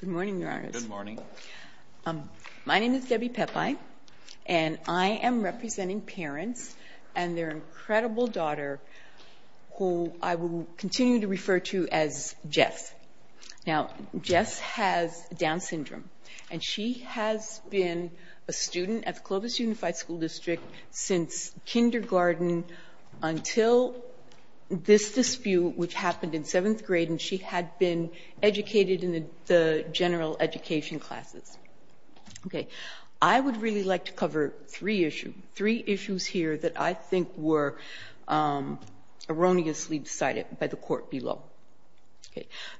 Good morning, Your Honors. Good morning. My name is Debbie Peppi, and I am representing parents and their incredible daughter, who I will continue to refer to as Jess. Now, Jess has Down syndrome, and she has been a student at the Clovis Unified School District since kindergarten until this dispute, which happened in seventh grade, and she had been educated in the general education classes. I would really like to cover three issues here that I think were erroneously decided by the court below.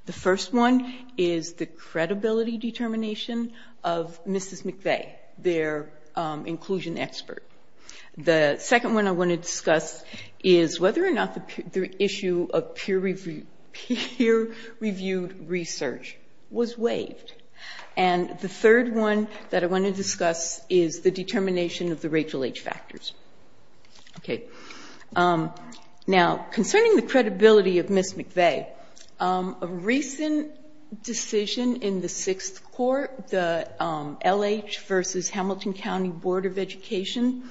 The first one is the credibility determination of Mrs. McVeigh, their inclusion expert. The second one I want to discuss is whether or not the issue of peer-reviewed research was waived. And the third one that I want to discuss is the determination of the Rachel H. factors. Now, concerning the credibility of Mrs. McVeigh, a recent decision in the Sixth Court, the L.H. v. Hamilton County Board of Education,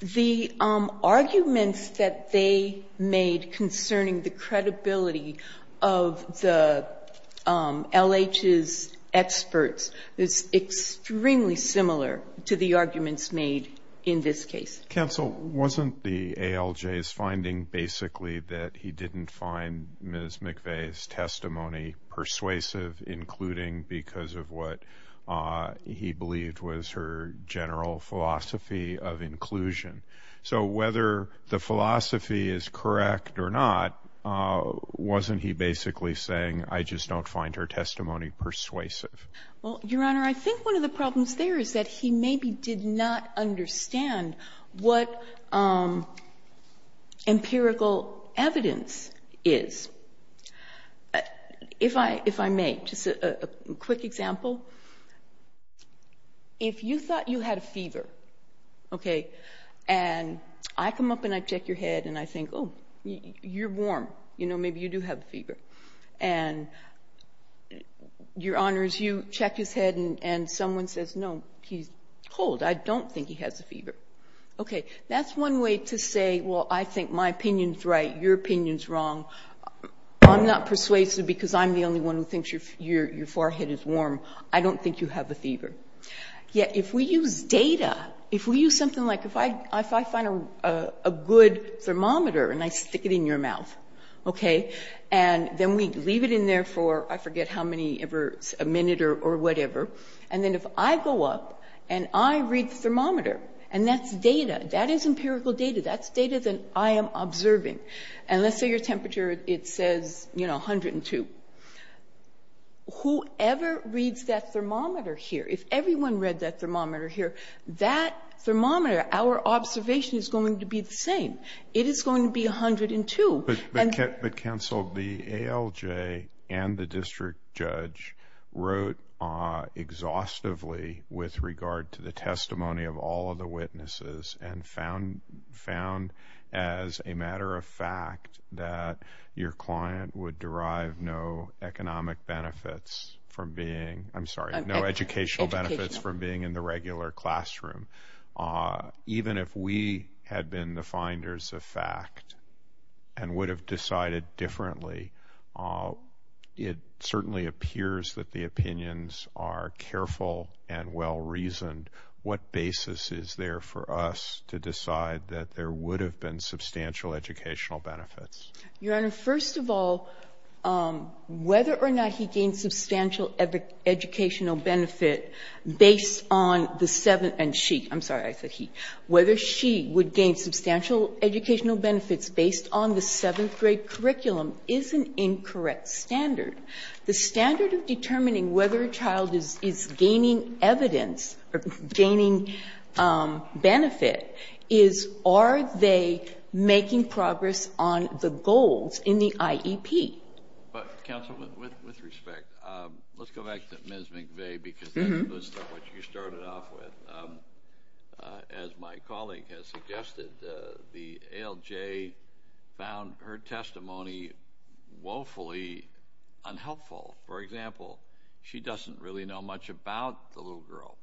the arguments that they made concerning the credibility of the L.H.'s experts is extremely similar to the arguments made in this case. Counsel, wasn't the ALJ's finding basically that he didn't find Ms. McVeigh's testimony persuasive, including because of what he believed was her general philosophy of inclusion? So whether the philosophy is correct or not, wasn't he basically saying, I just don't find her testimony persuasive? Well, Your Honor, I think one of the problems there is that he maybe did not understand what empirical evidence is. If I may, just a quick example. If you thought you had a fever, okay, and I come up and I check your head and I think, oh, you're warm. You know, maybe you do have a fever. And, Your Honor, as you check his head and someone says, no, he's cold. I don't think he has a fever. Okay, that's one way to say, well, I think my opinion's right, your opinion's wrong. I'm not persuasive because I'm the only one who thinks your forehead is warm. I don't think you have a fever. Yet if we use data, if we use something like if I find a good thermometer and I stick it in your mouth, okay, and then we leave it in there for, I forget how many ever, a minute or whatever, and then if I go up and I read the thermometer, and that's data, that is empirical data, that's data that I am observing, and let's say your temperature, it says, you know, 102. Whoever reads that thermometer here, if everyone read that thermometer here, that thermometer, our observation is going to be the same. It is going to be 102. But, counsel, the ALJ and the district judge wrote exhaustively with regard to the testimony of all of the witnesses and found as a matter of fact that your client would derive no economic benefits from being, I'm sorry, no educational benefits from being in the regular classroom. Even if we had been the finders of fact and would have decided differently, it certainly appears that the opinions are careful and well-reasoned. What basis is there for us to decide that there would have been substantial educational benefits? Your Honor, first of all, whether or not he gained substantial educational benefit based on the seventh and she, I'm sorry, I said he, whether she would gain substantial educational benefits based on the seventh grade curriculum is an incorrect standard. The standard of determining whether a child is gaining evidence or gaining benefit is are they making progress on the goals in the IEP? But, counsel, with respect, let's go back to Ms. McVeigh because that's what you started off with. As my colleague has suggested, the ALJ found her testimony woefully unhelpful. For example, she doesn't really know much about the little girl.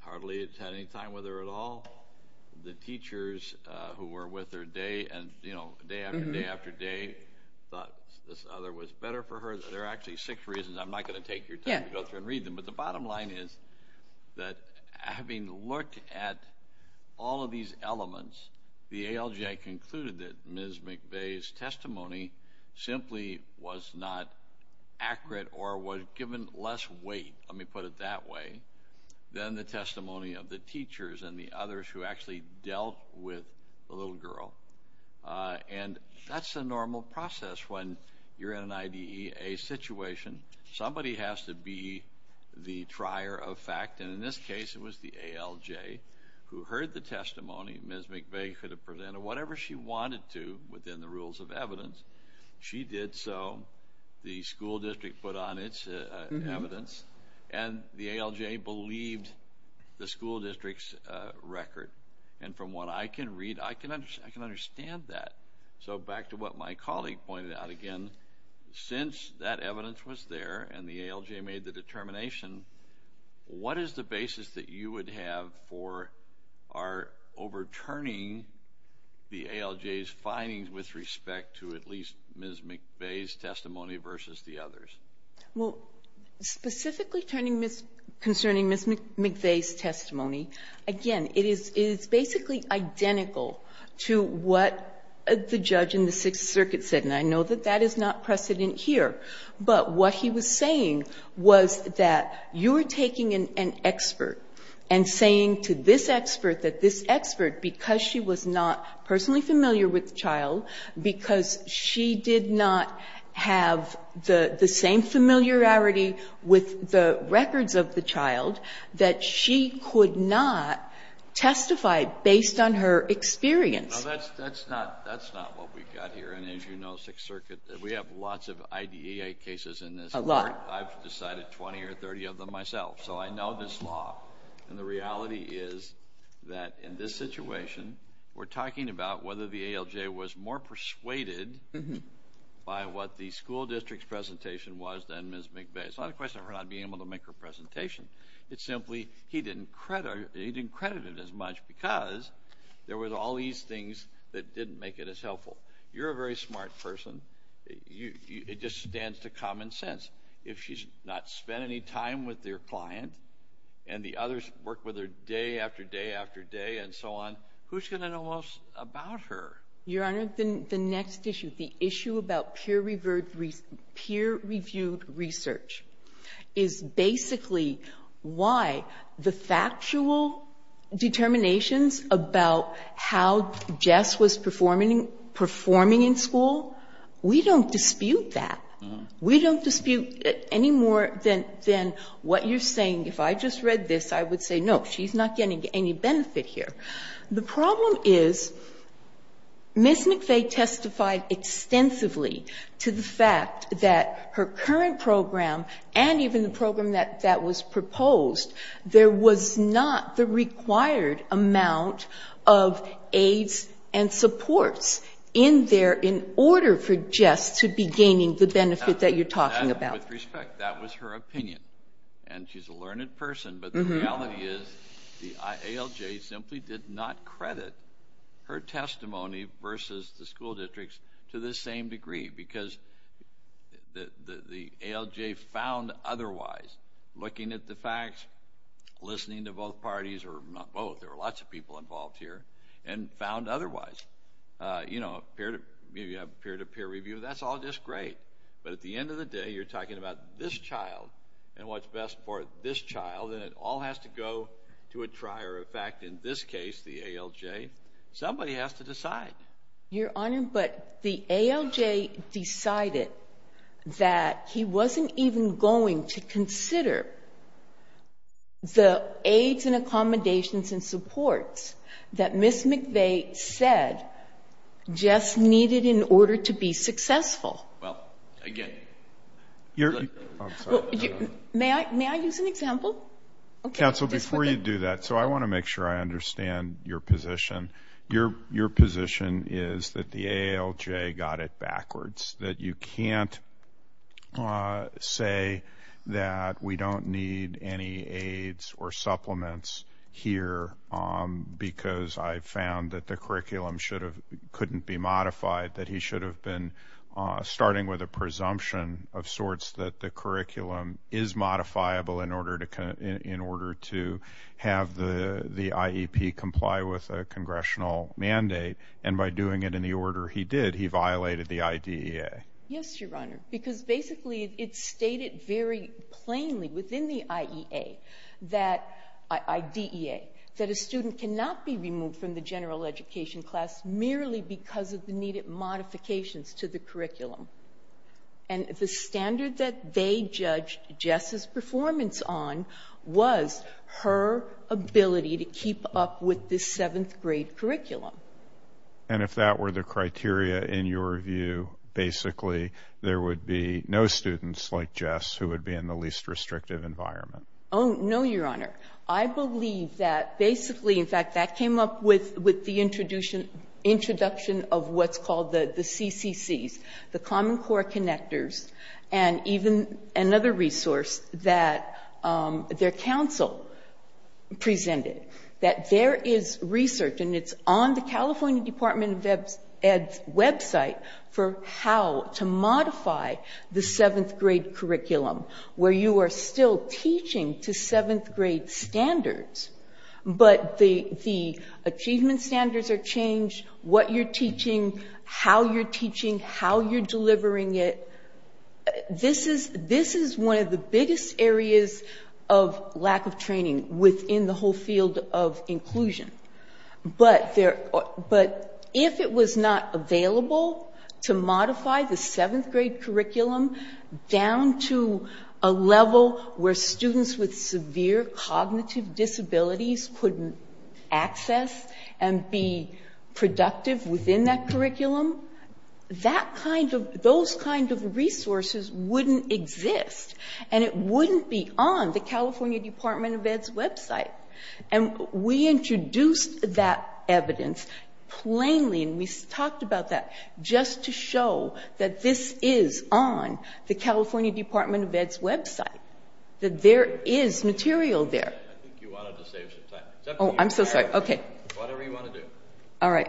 Hardly had any time with her at all. The teachers who were with her day after day after day thought this other was better for her. There are actually six reasons. I'm not going to take your time to go through and read them, but the bottom line is that having looked at all of these elements, the ALJ concluded that Ms. McVeigh's testimony simply was not accurate or was given less weight. Let me put it that way than the testimony of the teachers and the others who actually dealt with the little girl. And that's a normal process when you're in an IDEA situation. Somebody has to be the trier of fact, and in this case, it was the ALJ who heard the testimony. Ms. McVeigh could have presented whatever she wanted to within the rules of evidence. She did so. The school district put on its evidence, and the ALJ believed the school district's record. And from what I can read, I can understand that. So back to what my colleague pointed out, again, since that evidence was there and the ALJ made the determination, what is the basis that you would have for our overturning the ALJ's respect to at least Ms. McVeigh's testimony versus the others? Well, specifically concerning Ms. McVeigh's testimony, again, it is basically identical to what the judge in the Sixth Circuit said. And I know that that is not precedent here. But what he was saying was that you're taking an expert and saying to this expert that this expert, because she was not personally familiar with the child, because she did not have the same familiarity with the records of the child, that she could not testify based on her experience. Now, that's not what we've got here. And as you know, Sixth Circuit, we have lots of IDEA cases in this Court. A lot. I've decided 20 or 30 of them myself. So I know this law. And the reality is that in this situation, we're talking about whether the ALJ was more persuaded by what the school district's presentation was than Ms. McVeigh. It's not a question of her not being able to make her presentation. It's simply he didn't credit it as much because there were all these things that didn't make it as helpful. You're a very smart person. It just stands to common sense. If she's not spent any time with their client and the others work with her day after day after day and so on, who's going to know most about her? Your Honor, the next issue, the issue about peer-reviewed research, is basically why the factual determinations about how Jess was performing in school, we don't dispute that. We don't dispute it any more than what you're saying. If I just read this, I would say, no, she's not getting any benefit here. The problem is Ms. McVeigh testified extensively to the fact that her current program and even the program that was proposed, there was not the required amount of aids and benefit that you're talking about. With respect, that was her opinion. She's a learned person, but the reality is the ALJ simply did not credit her testimony versus the school districts to the same degree because the ALJ found otherwise looking at the facts, listening to both parties, or not both, there were lots of people involved here, and found otherwise. You know, you have peer-to-peer review, that's all just great, but at the end of the day, you're talking about this child and what's best for this child, and it all has to go to a trier. In fact, in this case, the ALJ, somebody has to decide. Your Honor, but the ALJ decided that he wasn't even going to consider the aids and accommodations and supports that Ms. McVeigh said just needed in order to be successful. Well, again... I'm sorry. May I use an example? Counsel, before you do that, so I want to make sure I understand your position. Your position is that the ALJ got it backwards, that you can't say that we don't need any supplements here because I found that the curriculum couldn't be modified, that he should have been starting with a presumption of sorts that the curriculum is modifiable in order to have the IEP comply with a congressional mandate, and by doing it in the order he did, he violated the IDEA. Yes, Your Honor, because basically it's stated very plainly within the IDEA that a student cannot be removed from the general education class merely because of the needed modifications to the curriculum. And the standard that they judged Jess's performance on was her ability to keep up with the seventh grade curriculum. And if that were the criteria in your view, basically there would be no students like Jess who would be in the least restrictive environment? Oh, no, Your Honor. I believe that basically, in fact, that came up with the introduction of what's called the CCCs, the Common Core Connectors, and even another resource that their counsel presented, that there is research, and it's on the California Department of Ed's website, for how to modify the seventh grade curriculum where you are still teaching to seventh grade standards, but the achievement standards are changed, what you're teaching, how you're teaching, how you're delivering it. This is one of the biggest areas of lack of training within the whole field of inclusion. But if it was not available to modify the seventh grade curriculum down to a level where students with severe cognitive disabilities couldn't access and be productive within that wouldn't exist, and it wouldn't be on the California Department of Ed's website. And we introduced that evidence plainly, and we talked about that, just to show that this is on the California Department of Ed's website, that there is material there. I think you wanted to save some time. Oh, I'm so sorry. Okay. Whatever you want to do. All right.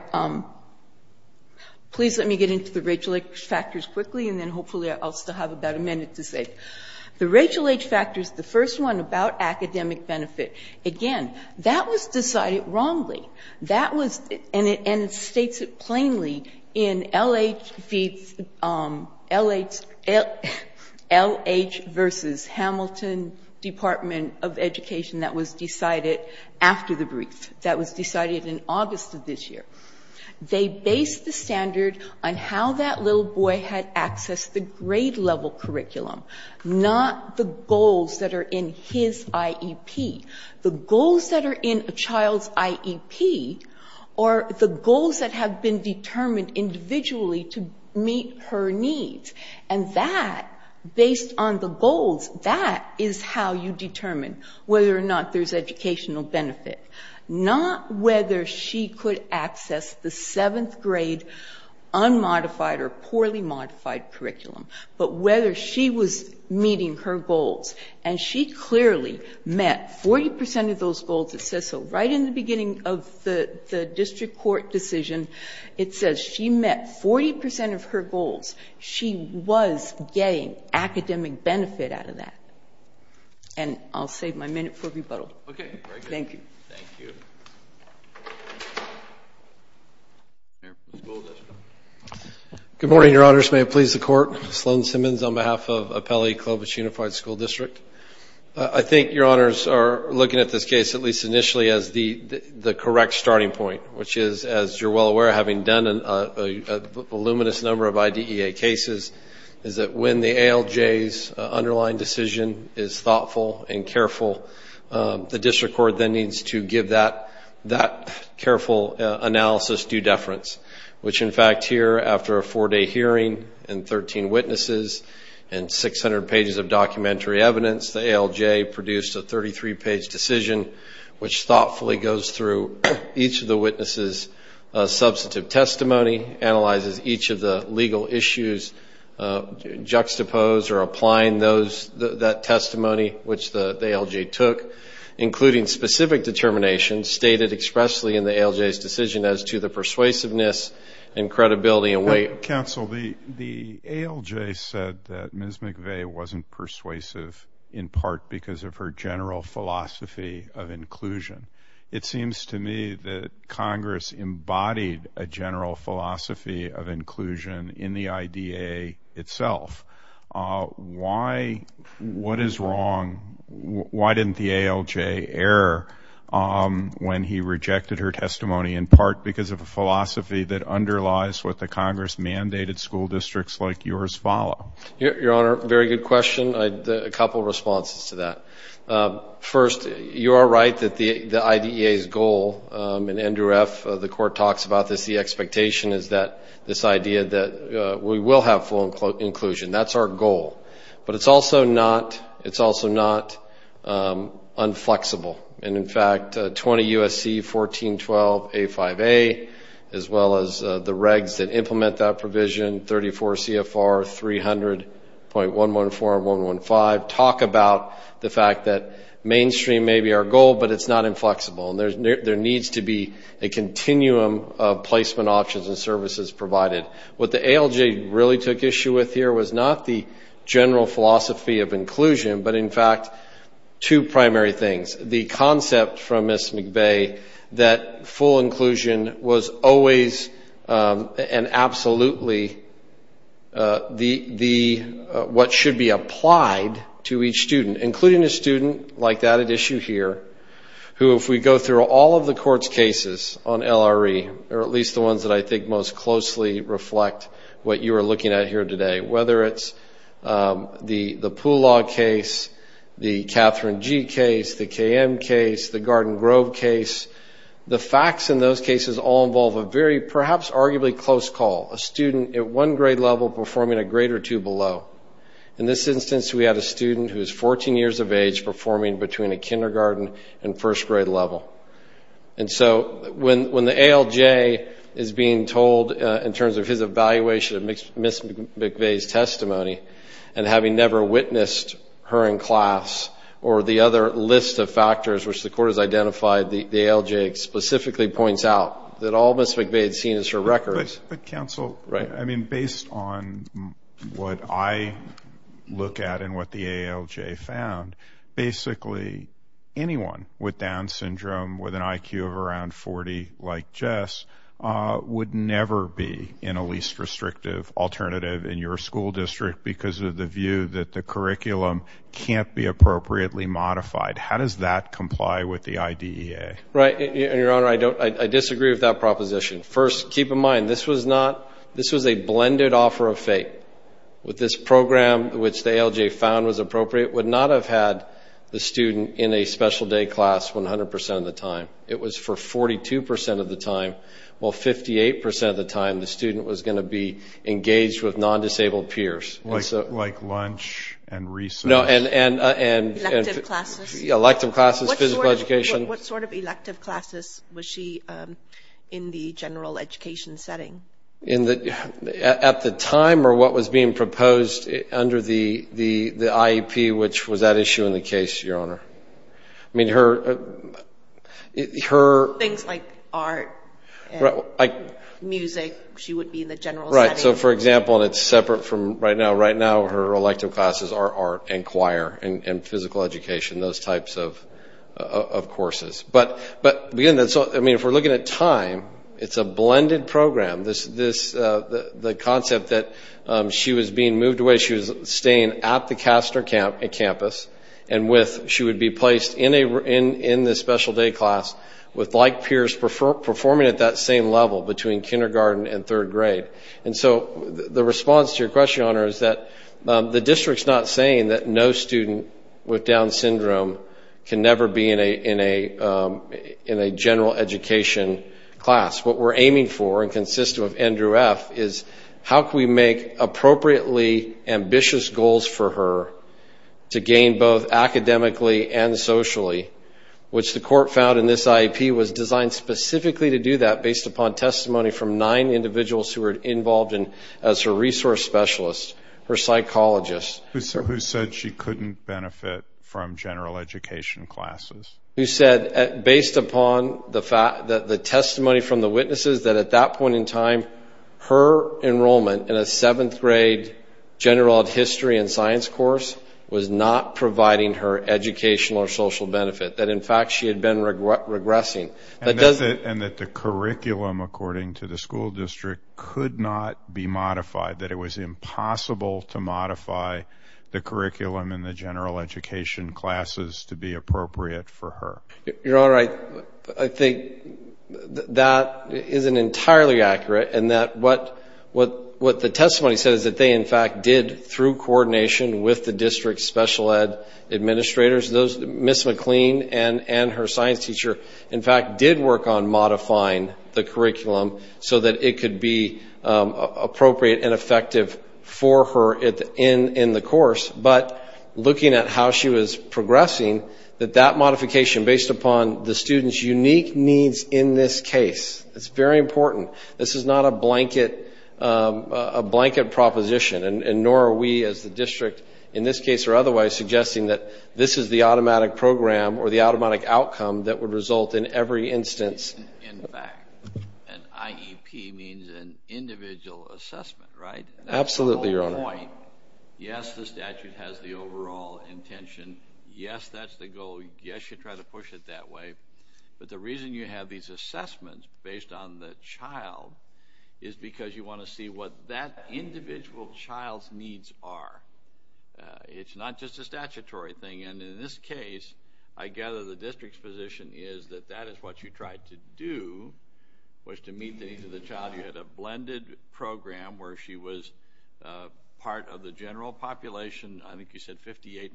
Please let me get into the Rachel H. factors quickly, and then hopefully I'll still have about a minute to say. The Rachel H. factors, the first one about academic benefit, again, that was decided wrongly, and it states it plainly in L.H. versus Hamilton Department of Education that was decided after the brief, that was decided in August of this year. They based the standard on how that little boy had accessed the grade-level curriculum, not the goals that are in his IEP. The goals that are in a child's IEP are the goals that have been determined individually to meet her needs. And that, based on the goals, that is how you determine whether or not there's educational benefit. Not whether she could access the seventh grade unmodified or poorly modified curriculum, but whether she was meeting her goals. And she clearly met 40 percent of those goals. It says so right in the beginning of the district court decision. It says she met 40 percent of her goals. She was getting academic benefit out of that. And I'll save my minute for rebuttal. Thank you. Good morning, Your Honors. May it please the Court. Sloan Simmons on behalf of Appellee-Clovis Unified School District. I think Your Honors are looking at this case, at least initially, as the correct starting point, which is, as you're well aware, having done a voluminous number of IDEA cases, is that when the ALJ's underlying decision is thoughtful and careful, the district court then needs to give that careful analysis due deference. Which, in fact, here, after a four-day hearing and 13 witnesses and 600 pages of documentary evidence, the ALJ produced a 33-page decision which thoughtfully goes through each of the witnesses' substantive testimony, analyzes each of the legal issues, juxtaposed or applying that testimony, which the ALJ took, including specific determinations stated expressly in the ALJ's decision as to the persuasiveness and credibility and weight. Counsel, the ALJ said that Ms. McVeigh wasn't persuasive in part because of her general philosophy of inclusion. It seems to me that Congress embodied a general philosophy of inclusion in the IDEA itself. What is wrong? Why didn't the ALJ err when he rejected her testimony, in part because of a philosophy that underlies what the Congress-mandated school districts like yours follow? Your Honor, very good question. A couple of responses to that. First, you are right that the IDEA's goal, and Andrew F., the court talks about this, the expectation is that this idea that we will have full inclusion, that's our goal. But it's also not unflexible. And, in fact, 20 U.S.C. 1412A5A, as well as the regs that implement that provision, 34 CFR 300.114 and 115, talk about the fact that mainstream may be our goal, but it's not inflexible. And there needs to be a continuum of placement options and services provided. What the ALJ really took issue with here was not the general philosophy of inclusion, but, in fact, two primary things. The concept from Ms. McVeigh that full inclusion was always and absolutely what should be applied to each student, including a student like that at issue here, who, if we go through all of the court's cases on LRE, or at least the ones that I think most closely reflect what you are looking at here today, whether it's the Poolaw case, the Catherine G. case, the KM case, the Garden Grove case, the facts in those cases all involve a very perhaps arguably close call, a student at one grade level performing a grade or two below. In this instance, we had a student who was 14 years of age performing between a kindergarten and first grade level. And so when the ALJ is being told in terms of his evaluation of Ms. McVeigh's testimony, and having never witnessed her in class or the other list of factors which the court has identified, the ALJ specifically points out that all Ms. McVeigh had seen is her records. But, counsel, I mean, based on what I look at and what the ALJ found, basically anyone with Down syndrome with an IQ of around 40 like Jess would never be in a least restrictive alternative in your school district because of the view that the curriculum can't be appropriately modified. How does that comply with the IDEA? Right, and, Your Honor, I disagree with that proposition. First, keep in mind, this was a blended offer of fate. This program, which the ALJ found was appropriate, would not have had the student in a special day class 100% of the time. It was for 42% of the time, while 58% of the time the student was going to be engaged with non-disabled peers. Like lunch and research? No, and... Elective classes? Yeah, elective classes, physical education. What sort of elective classes was she in the general education setting? At the time, or what was being proposed under the IEP, which was that issue in the case, Your Honor? I mean, her... Things like art and music, she would be in the general setting. Right, so, for example, and it's separate from right now, right now her elective classes are art and choir and physical education, those types of courses. But, again, if we're looking at time, it's a blended program. The concept that she was being moved away, she was staying at the Caster campus, and she would be placed in the special day class with like peers performing at that same level between kindergarten and third grade. And so the response to your question, Your Honor, is that the district's not saying that no student with Down syndrome can never be in a general education class. What we're aiming for and consistent with Andrew F. is how can we make appropriately ambitious goals for her to gain both academically and socially, which the court found in this IEP was designed specifically to do that based upon testimony from nine individuals who were involved as her resource specialists, her psychologists. Who said she couldn't benefit from general education classes? Who said, based upon the testimony from the witnesses, that at that point in time, her enrollment in a seventh grade general history and science course was not providing her educational or social benefit. That, in fact, she had been regressing. And that the curriculum, according to the school district, could not be modified. That it was impossible to modify the curriculum in the general education classes to be appropriate for her. Your Honor, I think that isn't entirely accurate. And that what the testimony says that they, in fact, did through coordination with the district's special ed administrators, Ms. McLean and her science teacher, in fact, did work on modifying the curriculum so that it could be appropriate and effective for her in the course. But looking at how she was progressing, that that modification based upon the student's unique needs in this case, it's very important, this is not a blanket proposition. And nor are we as the district, in this case or otherwise, suggesting that this is the automatic program or the automatic outcome that would result in every instance. In fact, an IEP means an individual assessment, right? Absolutely, Your Honor. Yes, the statute has the overall intention. Yes, that's the goal. Yes, you try to push it that way. But the reason you have these assessments based on the child is because you want to see what that individual child's needs are. It's not just a statutory thing. And in this case, I gather the district's position is that that is what you tried to do, was to meet the needs of the child. You had a blended program where she was part of the general population, I think you said 58%.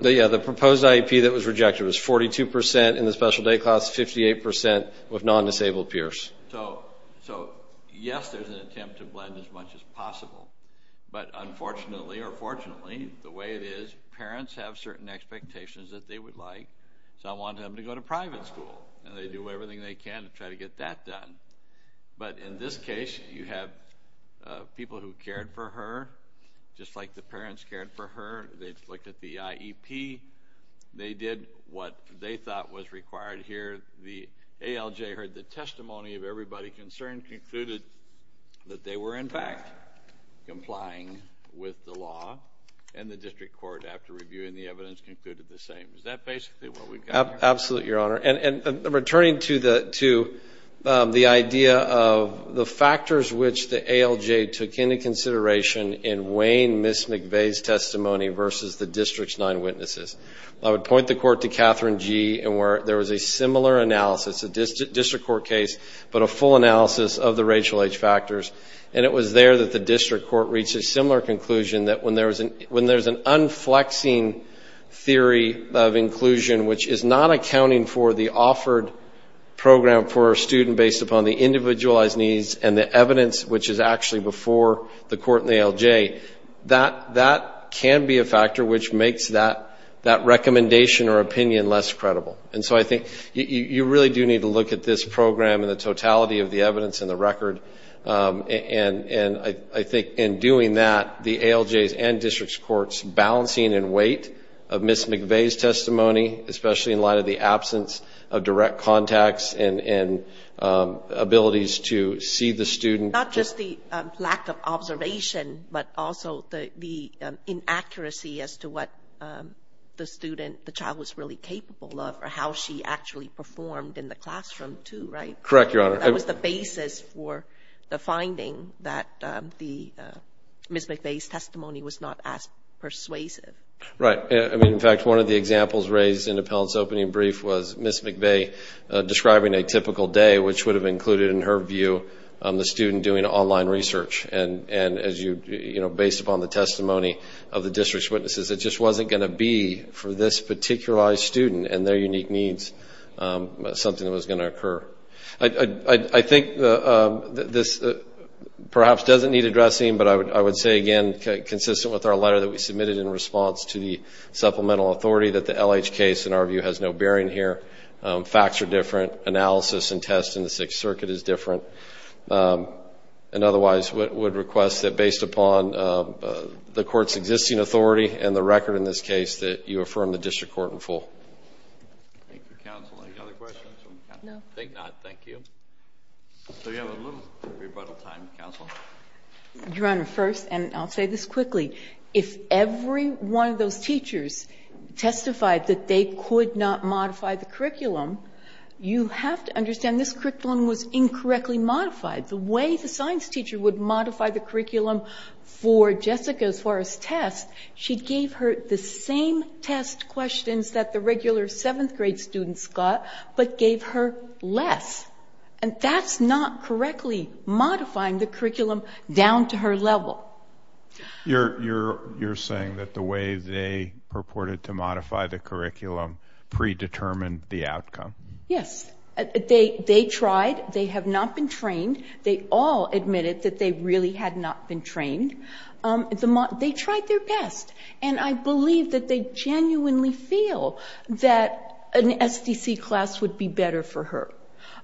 Yeah, the proposed IEP that was rejected was 42% in the special day class, 58% with non-disabled peers. So, yes, there's an attempt to blend as much as possible. But unfortunately or fortunately, the way it is, parents have certain expectations that they would like. So I want them to go to private school. And they do everything they can to try to get that done. But in this case, you have people who cared for her, just like the parents cared for her. They looked at the IEP. They did what they thought was required here. The ALJ heard the testimony of everybody concerned, concluded that they were, in fact, complying with the law. And the district court, after reviewing the evidence, concluded the same. Is that basically what we've got here? Absolutely, Your Honor. And returning to the idea of the factors which the ALJ took into consideration in Wayne, Ms. McVeigh's testimony versus the district's nine witnesses, I would point the court to Catherine G. And there was a similar analysis, a district court case, but a full analysis of the racial age factors. And it was there that the district court reached a similar conclusion, that when there's an unflexing theory of inclusion, which is not accounting for the offered program for a student based upon the individualized needs and the evidence which is actually before the court and the ALJ, that can be a factor which makes that recommendation or opinion less credible. And so I think you really do need to look at this program and the totality of the evidence and the record. And I think in doing that, the ALJs and district courts balancing in weight of Ms. McVeigh's testimony, especially in light of the absence of direct contacts and abilities to see the student. Not just the lack of observation, but also the inaccuracy as to what the student, the child was really capable of or how she actually performed in the classroom too, right? Correct, Your Honor. That was the basis for the finding that Ms. McVeigh's testimony was not as persuasive. Right. I mean, in fact, one of the examples raised in Appellant's opening brief was Ms. McVeigh describing a typical day, which would have included, in her view, the student doing online research. And based upon the testimony of the district's witnesses, it just wasn't going to be for this particularized student and their unique needs something that was going to occur. I think this perhaps doesn't need addressing, but I would say again, consistent with our letter that we submitted in response to the supplemental authority, that the L.H. case, in our view, has no bearing here. Facts are different. Analysis and tests in the Sixth Circuit is different. And otherwise, would request that based upon the court's existing authority and the record in this case that you affirm the district court in full. Thank you, counsel. Any other questions? No. I think not. Thank you. So we have a little rebuttal time, counsel. Your Honor, first, and I'll say this quickly. If every one of those teachers testified that they could not modify the curriculum, you have to understand this curriculum was incorrectly modified. The way the science teacher would modify the curriculum for Jessica as far as tests, she gave her the same test questions that the regular seventh grade students got, but gave her less. And that's not correctly modifying the curriculum down to her level. You're saying that the way they purported to modify the curriculum predetermined the outcome? Yes. They tried. They have not been trained. They all admitted that they really had not been trained. They tried their best. And I believe that they genuinely feel that an SDC class would be better for her.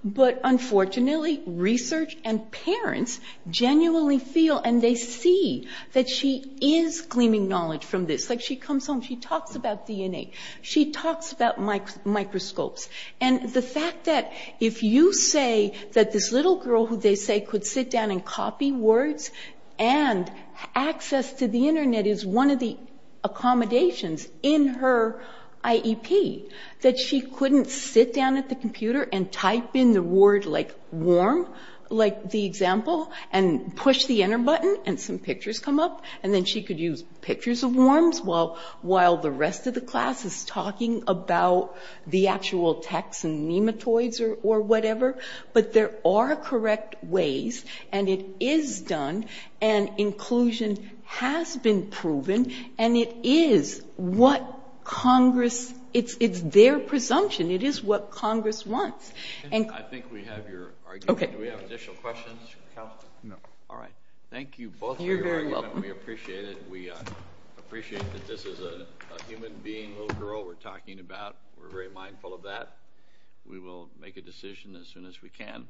But unfortunately, research and parents genuinely feel and they see that she is gleaming knowledge from this. Like, she comes home, she talks about DNA. She talks about microscopes. And the fact that if you say that this little girl who they say could sit down and copy words and access to the Internet is one of the accommodations in her IEP, that she couldn't sit down at the computer and type in the word, like, warm, like the example, and push the enter button and some pictures come up, and then she could use pictures of warms while the rest of the class is talking about the actual text and nematoids or whatever. But there are correct ways, and it is done, and inclusion has been proven, and it is what Congress, it's their presumption. It is what Congress wants. And I think we have your argument. Do we have additional questions? No. All right. Thank you both for your argument. You're very welcome. We appreciate it. We appreciate that this is a human being, little girl we're talking about. We're very mindful of that. We will make a decision as soon as we can.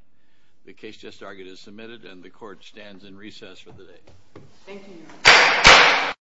The case just argued is submitted, and the court stands in recess for the day. Thank you.